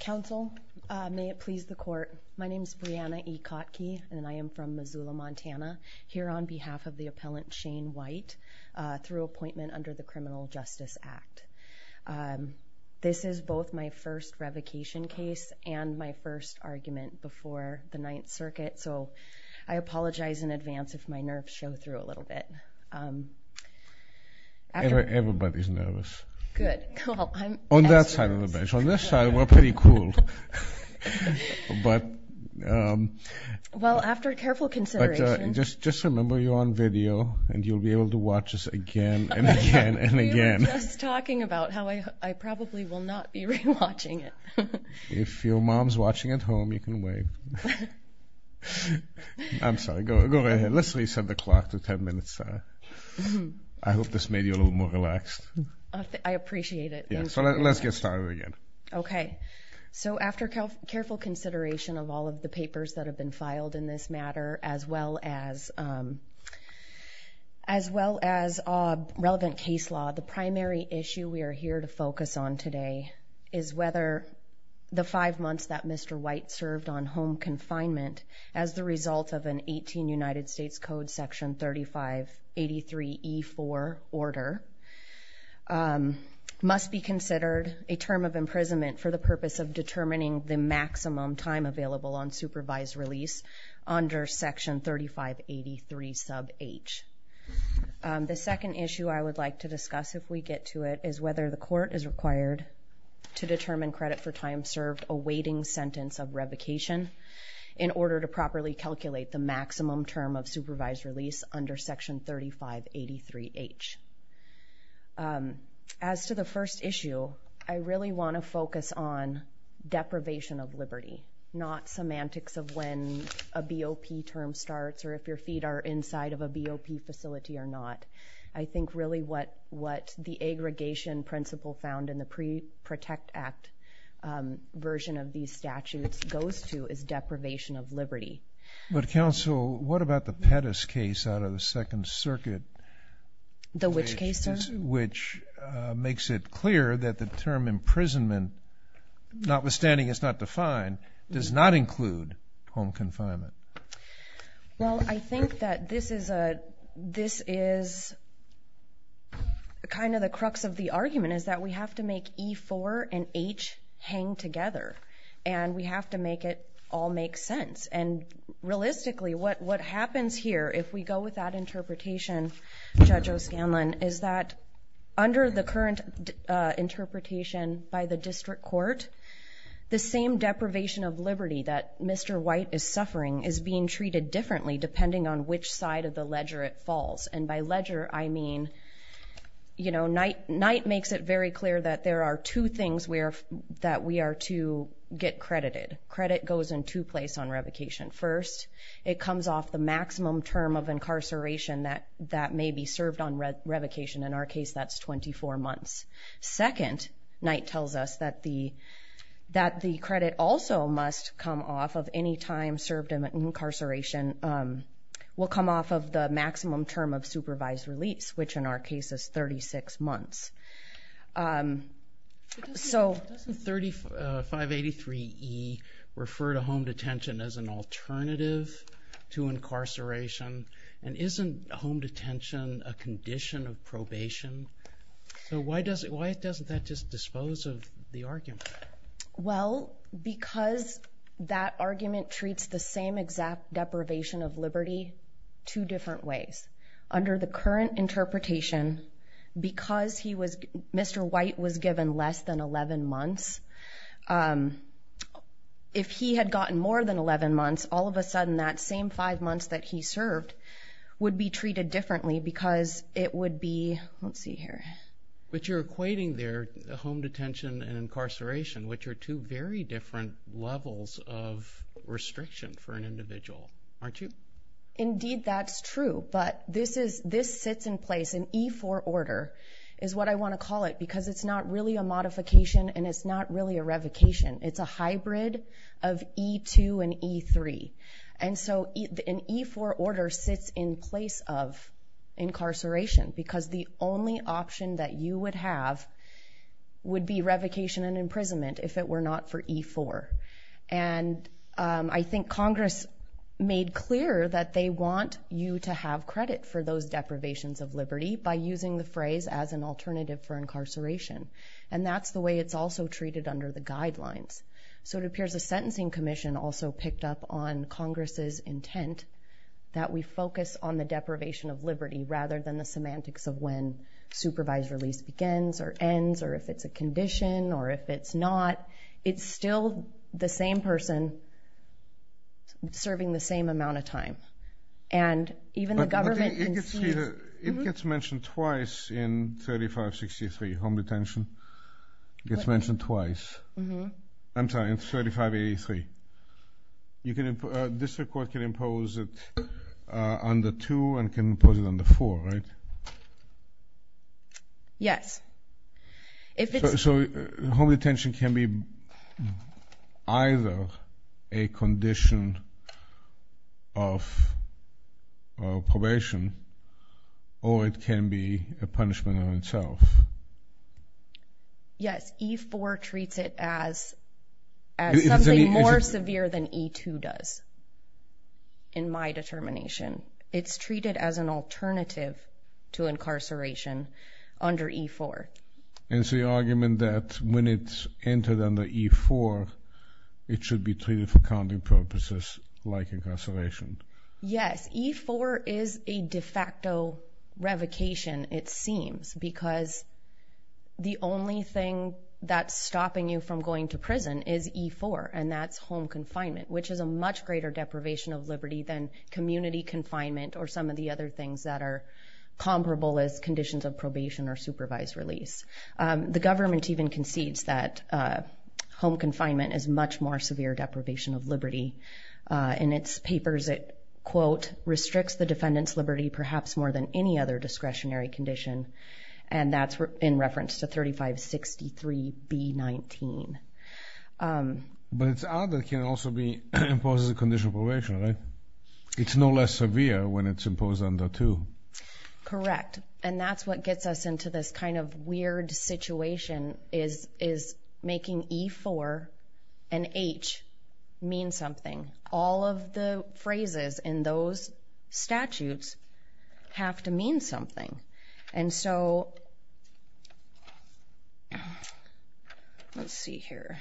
Council, may it please the court. My name is Brianna E. Kotke, and I am from Missoula, Montana, here on behalf of the appellant Shane White through appointment under the Criminal Justice Act. This is both my first revocation case and my first argument before the Ninth Circuit, so I apologize in advance if my nerves show through a little bit. Everybody's nervous. Good. On that side of the bench. On this side, we're pretty cool. Well, after careful consideration. Just remember you're on video, and you'll be able to watch this again and again and again. We were just talking about how I probably will not be re-watching it. If your mom's watching at home, you can wait. I'm sorry. Go ahead. Let's reset the clock to ten minutes. I hope this made you a little more relaxed. I appreciate it. Let's get started again. Okay. So after careful consideration of all of the papers that have been filed in this matter, as well as relevant case law, the primary issue we are here to focus on today is whether the five months that Mr. White served on home confinement as the result of an 18 United States Code Section 3583E4 order must be considered a term of imprisonment for the purpose of determining the maximum time available on supervised release under Section 3583 sub H. The second issue I would like to discuss if we get to it is whether the court is required to determine credit for time served awaiting sentence of revocation in order to properly calculate the maximum term of supervised release under Section 3583H. As to the first issue, I really want to focus on deprivation of liberty, not semantics of when a BOP term starts or if your feet are inside of a BOP facility or not. I think really what the aggregation principle found in the Pre-Protect Act version of these statutes goes to is deprivation of liberty. But counsel, what about the Pettis case out of the Second Circuit? The which case, sir? Which makes it clear that the term imprisonment, notwithstanding it's not defined, does not include home confinement. Well, I think that this is kind of the crux of the argument is that we have to make E4 and H hang together and we have to make it all make sense. And realistically, what happens here if we go with that interpretation, Judge O'Scanlan, is that under the current interpretation by the district court, the same deprivation of liberty that Mr. White is suffering is being treated differently depending on which side of the ledger it falls. And by ledger, I mean, you know, Knight makes it very clear that there are two things that we are to get credited. Credit goes in two place on revocation. First, it comes off the maximum term of incarceration that may be served on revocation. In our case, that's 24 months. Second, Knight tells us that the credit also must come off of any time served in incarceration will come off of the maximum term of supervised release, which in our case is 36 months. Doesn't 3583E refer to home detention as an alternative to incarceration? And isn't home detention a condition of probation? So why doesn't that just dispose of the argument? Well, because that argument treats the same exact deprivation of liberty two different ways. Under the current interpretation, because Mr. White was given less than 11 months, if he had gotten more than 11 months, all of a sudden that same five months that he served would be treated differently because it would be, let's see here. But you're equating there home detention and incarceration, which are two very different levels of restriction for an individual, aren't you? Indeed, that's true. But this sits in place, an E-4 order is what I want to call it because it's not really a modification and it's not really a revocation. It's a hybrid of E-2 and E-3. And so an E-4 order sits in place of incarceration because the only option that you would have would be revocation and imprisonment if it were not for E-4. And I think Congress made clear that they want you to have credit for those deprivations of liberty by using the phrase as an alternative for incarceration. And that's the way it's also treated under the guidelines. So it appears the Sentencing Commission also picked up on Congress's intent that we focus on the deprivation of liberty rather than the semantics of when supervised release begins or ends or if it's a condition or if it's not. But it's still the same person serving the same amount of time. But it gets mentioned twice in 3563, home detention. It gets mentioned twice. I'm sorry, in 3583. District court can impose it under 2 and can impose it under 4, right? Yes. So home detention can be either a condition of probation or it can be a punishment in itself. Yes, E-4 treats it as something more severe than E-2 does in my determination. It's treated as an alternative to incarceration under E-4. And it's the argument that when it's entered under E-4, it should be treated for counting purposes like incarceration. Yes, E-4 is a de facto revocation, it seems, because the only thing that's stopping you from going to prison is E-4, and that's home confinement, which is a much greater deprivation of liberty than community confinement or some of the other things that are comparable as conditions of probation or supervised release. The government even concedes that home confinement is much more severe deprivation of liberty. In its papers, it, quote, restricts the defendant's liberty perhaps more than any other discretionary condition. And that's in reference to 3563 B-19. But it's odd that it can also be imposed as a condition of probation, right? It's no less severe when it's imposed under 2. Correct. And that's what gets us into this kind of weird situation is making E-4 and H mean something. All of the phrases in those statutes have to mean something. And so, let's see here.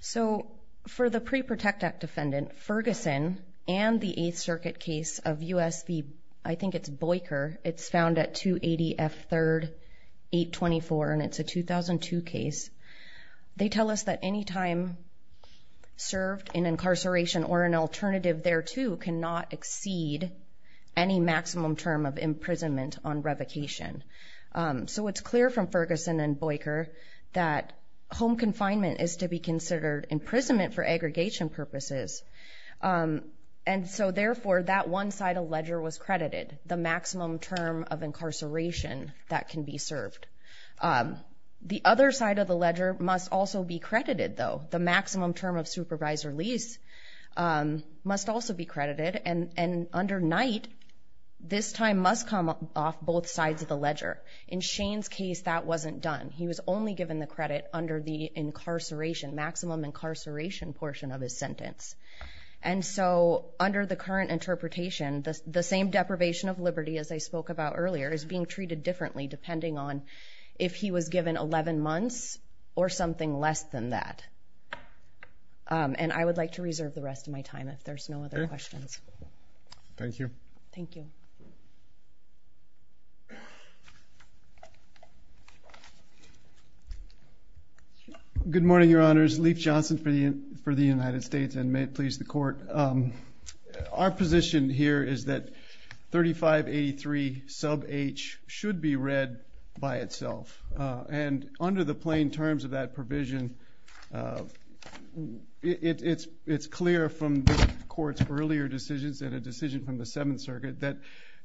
So, for the Pre-Protect Act defendant, Ferguson and the Eighth Circuit case of U.S.B., I think it's Boyker, it's found at 280 F. 3rd, 824, and it's a 2002 case. They tell us that any time served in incarceration or an alternative thereto cannot exceed any maximum term of imprisonment on revocation. So, it's clear from Ferguson and Boyker that home confinement is to be considered imprisonment for aggregation purposes. And so, therefore, that one side of ledger was credited, the maximum term of incarceration that can be served. The other side of the ledger must also be credited, though. The maximum term of supervised release must also be credited. And under Knight, this time must come off both sides of the ledger. In Shane's case, that wasn't done. He was only given the credit under the incarceration, maximum incarceration portion of his sentence. And so, under the current interpretation, the same deprivation of liberty as I spoke about earlier is being treated differently depending on if he was given 11 months or something less than that. And I would like to reserve the rest of my time if there's no other questions. Thank you. Thank you. Good morning, Your Honors. Leif Johnson for the United States, and may it please the Court. Our position here is that 3583 sub H should be read by itself. And under the plain terms of that provision, it's clear from the Court's earlier decisions and a decision from the Seventh Circuit that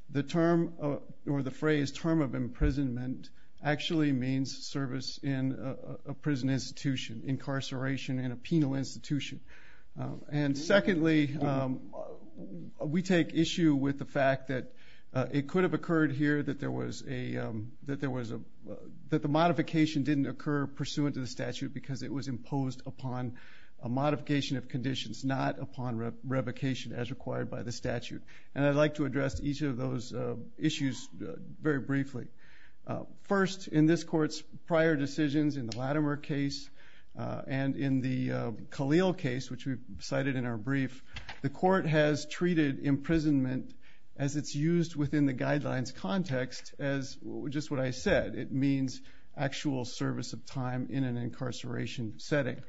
the term or the phrase term of imprisonment actually means service in a prison institution, incarceration in a penal institution. And secondly, we take issue with the fact that it could have occurred here that the modification didn't occur pursuant to the statute because it was imposed upon a modification of conditions, not upon revocation as required by the statute. And I'd like to address each of those issues very briefly. First, in this Court's prior decisions in the Latimer case and in the Khalil case, which we've cited in our brief, the Court has treated imprisonment as it's used within the guidelines context as just what I said. It means actual service of time in an incarceration setting.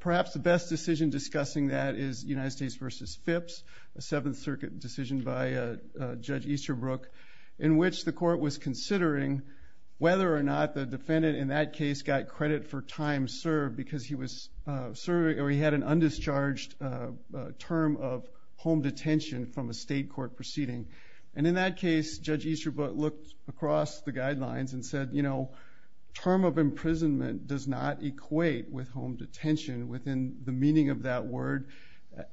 Perhaps the best decision discussing that is United States v. Phipps, a Seventh Circuit decision by Judge Easterbrook, in which the Court was considering whether or not the defendant in that case got credit for time served because he had an undischarged term of home detention from a state court proceeding. And in that case, Judge Easterbrook looked across the guidelines and said, you know, term of imprisonment does not equate with home detention within the meaning of that word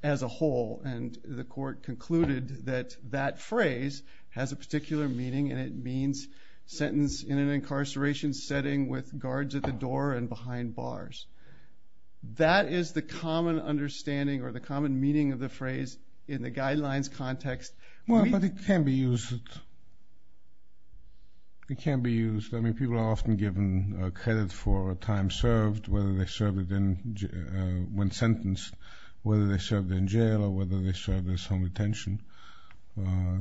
as a whole. And the Court concluded that that phrase has a particular meaning and it means sentence in an incarceration setting with guards at the door and behind bars. That is the common understanding or the common meaning of the phrase in the guidelines context. Well, but it can be used. It can be used. I mean, people are often given credit for time served, whether they served it in one sentence, whether they served in jail, or whether they served as home detention.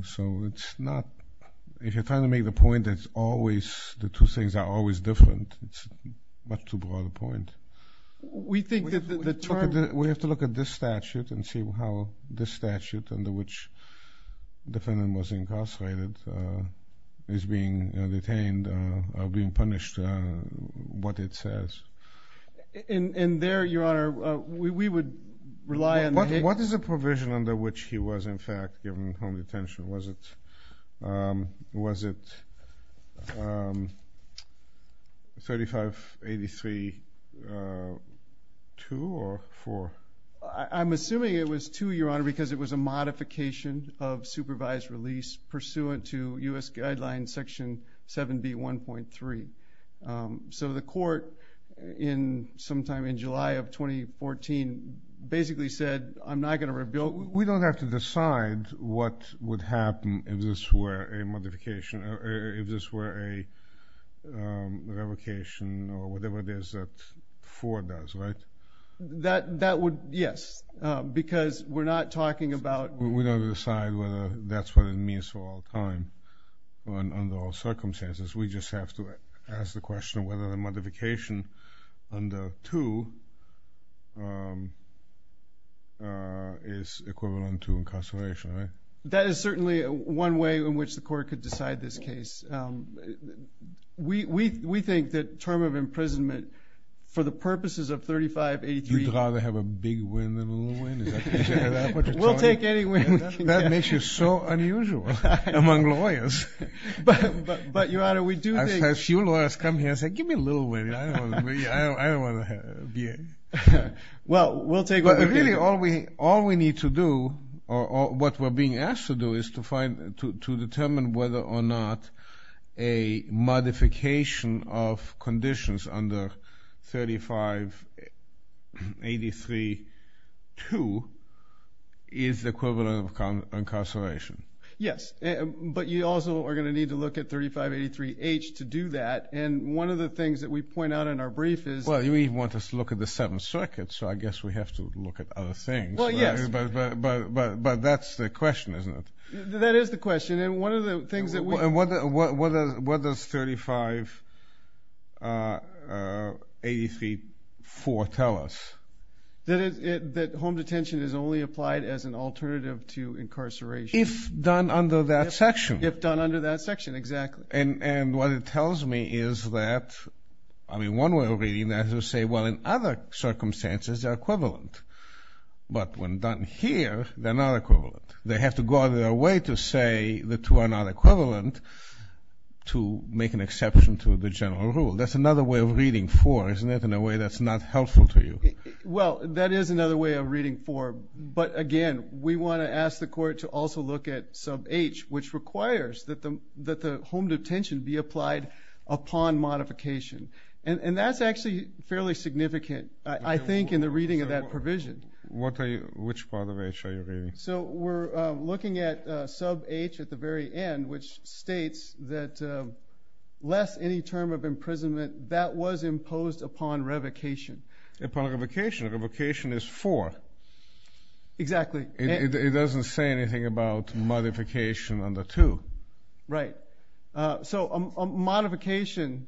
So it's not – if you're trying to make the point that it's always – the two things are always different, it's much too broad a point. We think that the term – We have to look at this statute and see how this statute under which the defendant was incarcerated is being detained or being punished, what it says. And there, Your Honor, we would rely on the – What is the provision under which he was, in fact, given home detention? Was it 3583.2 or 4? I'm assuming it was 2, Your Honor, because it was a modification of supervised release pursuant to U.S. Guidelines Section 7B.1.3. So the court in – sometime in July of 2014 basically said, I'm not going to rebuild – We don't have to decide what would happen if this were a modification – if this were a revocation or whatever it is that 4 does, right? That would – yes, because we're not talking about – We don't have to decide whether that's what it means for all time under all circumstances. We just have to ask the question of whether the modification under 2 is equivalent to incarceration, right? That is certainly one way in which the court could decide this case. We think that term of imprisonment for the purposes of 3583 – You'd rather have a big win than a little win? We'll take any win we can get. That makes you so unusual among lawyers. But, Your Honor, we do think – A few lawyers come here and say, give me a little win. I don't want to be a – Well, we'll take what we can get. All we need to do or what we're being asked to do is to determine whether or not a modification of conditions under 3583-2 is equivalent to incarceration. Yes, but you also are going to need to look at 3583-H to do that. And one of the things that we point out in our brief is – Well, I guess we have to look at other things. Well, yes. But that's the question, isn't it? That is the question, and one of the things that we – And what does 3583-4 tell us? That home detention is only applied as an alternative to incarceration. If done under that section. If done under that section, exactly. And what it tells me is that – I mean, one way of reading that is to say, well, in other circumstances, they're equivalent. But when done here, they're not equivalent. They have to go out of their way to say the two are not equivalent to make an exception to the general rule. That's another way of reading 4, isn't it, in a way that's not helpful to you? Well, that is another way of reading 4. But, again, we want to ask the court to also look at sub-H, which requires that the home detention be applied upon modification. And that's actually fairly significant, I think, in the reading of that provision. Which part of H are you reading? So we're looking at sub-H at the very end, which states that less any term of imprisonment. That was imposed upon revocation. Upon revocation. Revocation is 4. Exactly. It doesn't say anything about modification under 2. Right. So a modification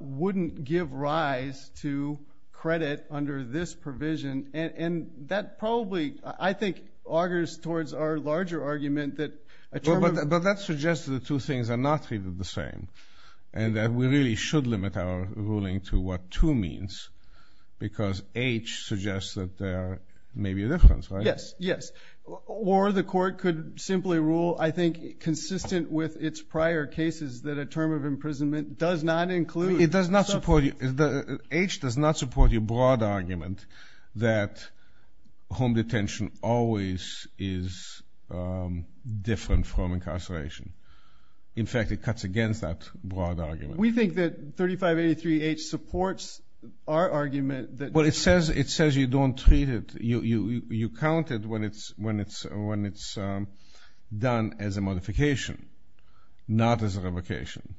wouldn't give rise to credit under this provision. And that probably, I think, augers towards our larger argument that a term of – But that suggests that the two things are not really the same and that we really should limit our ruling to what 2 means because H suggests that there may be a difference, right? Yes. Or the court could simply rule, I think, consistent with its prior cases, that a term of imprisonment does not include sub-H. H does not support your broad argument that home detention always is different from incarceration. In fact, it cuts against that broad argument. We think that 3583H supports our argument that – Well, it says you don't treat it. You count it when it's done as a modification, not as a revocation.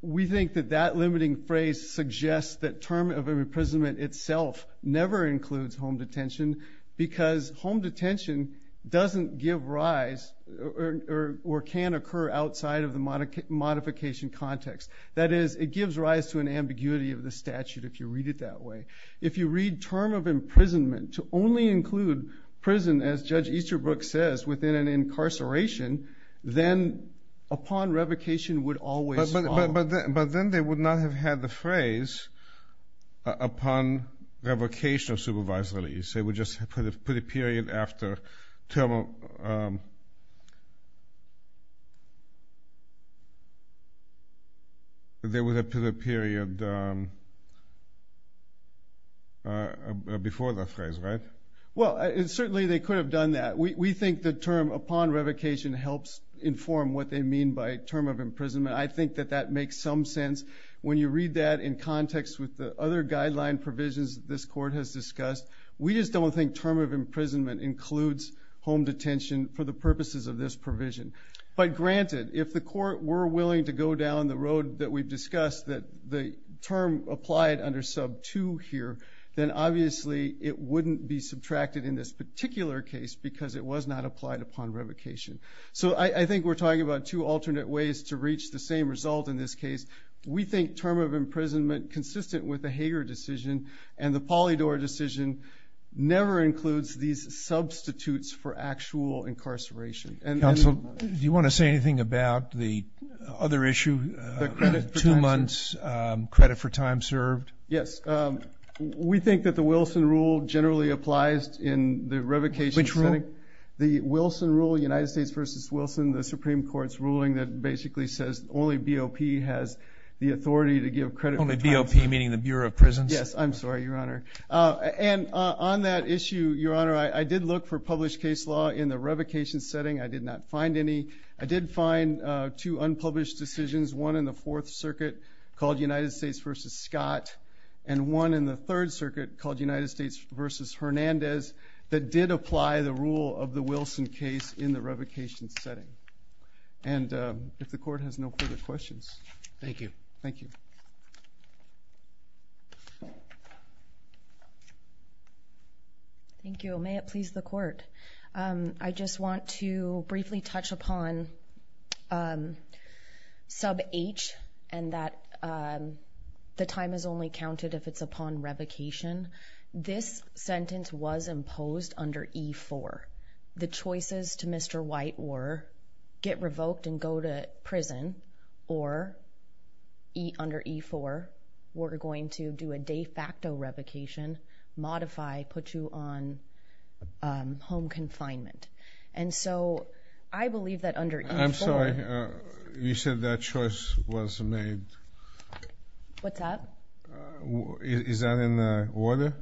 We think that that limiting phrase suggests that term of imprisonment itself never includes home detention because home detention doesn't give rise or can occur outside of the modification context. That is, it gives rise to an ambiguity of the statute if you read it that way. If you read term of imprisonment to only include prison, as Judge Easterbrook says, within an incarceration, then upon revocation would always follow. But then they would not have had the phrase upon revocation of supervised release. They would just have put a period after term of – they would have put a period before the phrase, right? Well, certainly they could have done that. We think the term upon revocation helps inform what they mean by term of imprisonment. I think that that makes some sense. When you read that in context with the other guideline provisions this court has discussed, we just don't think term of imprisonment includes home detention for the purposes of this provision. But granted, if the court were willing to go down the road that we've discussed that the term applied under sub 2 here, then obviously it wouldn't be subtracted in this particular case because it was not applied upon revocation. So I think we're talking about two alternate ways to reach the same result in this case. We think term of imprisonment, consistent with the Hager decision and the Polydor decision, never includes these substitutes for actual incarceration. Counsel, do you want to say anything about the other issue, the two months credit for time served? Yes. We think that the Wilson rule generally applies in the revocation setting. Which rule? The Wilson rule, United States v. Wilson, the Supreme Court's ruling that basically says only BOP has the authority to give credit for time served. Only BOP, meaning the Bureau of Prisons? Yes. I'm sorry, Your Honor. And on that issue, Your Honor, I did look for published case law in the revocation setting. I did not find any. I did find two unpublished decisions, one in the Fourth Circuit called United States v. Scott and one in the Third Circuit called United States v. Hernandez that did apply the rule of the Wilson case in the revocation setting. And if the Court has no further questions. Thank you. Thank you. Thank you. May it please the Court. I just want to briefly touch upon sub H and that the time is only counted if it's upon revocation. This sentence was imposed under E-4. The choices to Mr. White were get revoked and go to prison or under E-4, we're going to do a de facto revocation, modify, put you on home confinement. And so I believe that under E-4. I'm sorry. You said that choice was made. What's that? Is that in the order?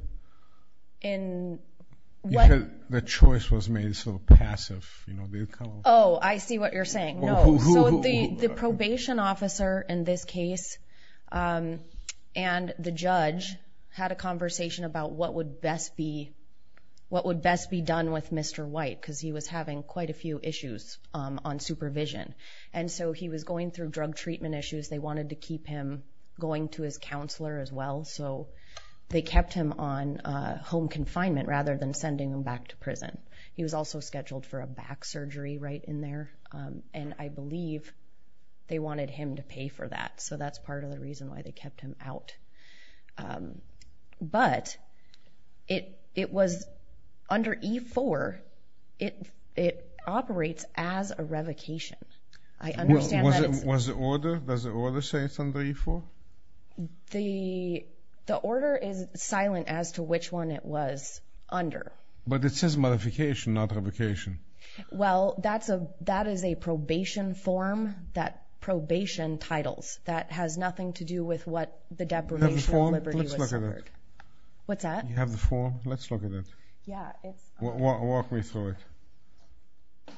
The choice was made so passive. Oh, I see what you're saying. So the probation officer in this case and the judge had a conversation about what would best be done with Mr. White because he was having quite a few issues on supervision. And so he was going through drug treatment issues. They wanted to keep him going to his counselor as well. So they kept him on home confinement rather than sending him back to prison. He was also scheduled for a back surgery right in there. And I believe they wanted him to pay for that. So that's part of the reason why they kept him out. But it was under E-4. It operates as a revocation. Does the order say it's under E-4? The order is silent as to which one it was under. But it says modification, not revocation. Well, that is a probation form, that probation titles. That has nothing to do with what the deprivation of liberty was covered. What's that? You have the form? Let's look at it. Walk me through it.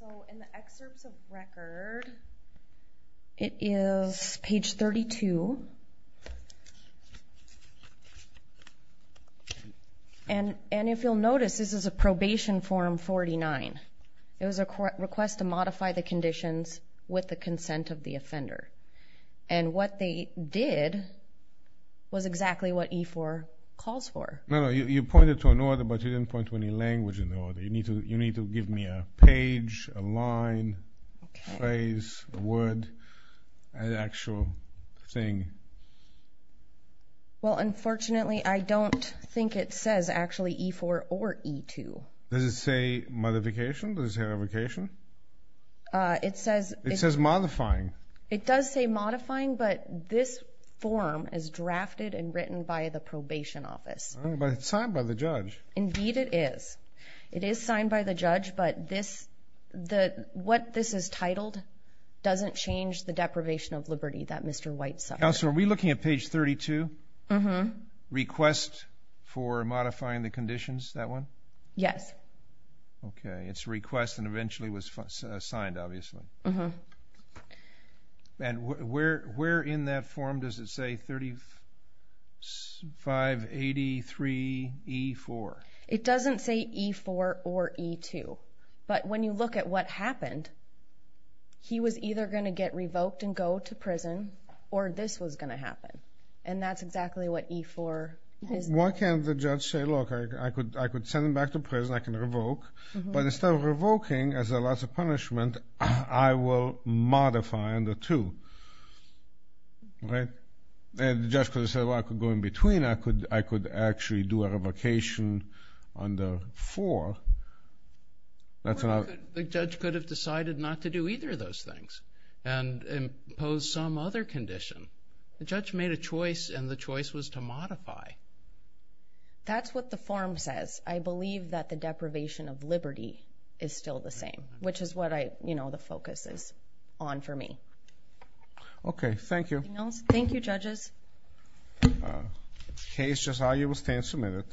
So in the excerpts of record, it is page 32. And if you'll notice, this is a probation form 49. It was a request to modify the conditions with the consent of the offender. And what they did was exactly what E-4 calls for. No, no, you pointed to an order, but you didn't point to any language in the order. You need to give me a page, a line, phrase, word, an actual thing. Well, unfortunately, I don't think it says actually E-4 or E-2. Does it say modification? Does it say revocation? It says modifying. It does say modifying, but this form is drafted and written by the probation office. But it's signed by the judge. Indeed it is. It is signed by the judge, but what this is titled doesn't change the deprivation of liberty that Mr. White signed. Counselor, are we looking at page 32? Uh-huh. Request for modifying the conditions, that one? Yes. Okay. It's a request and eventually was signed, obviously. Uh-huh. And where in that form does it say 3583E-4? It doesn't say E-4 or E-2, but when you look at what happened, he was either going to get revoked and go to prison or this was going to happen, and that's exactly what E-4 is. Why can't the judge say, look, I could send him back to prison, I can revoke, but instead of revoking as a loss of punishment, I will modify under 2, right? And the judge could have said, well, I could go in between, I could actually do a revocation under 4. The judge could have decided not to do either of those things and impose some other condition. The judge made a choice and the choice was to modify. That's what the form says. I believe that the deprivation of liberty is still the same, which is what the focus is on for me. Okay. Thank you. Anything else? Thank you, judges. The case, Josiah, will stand submitted.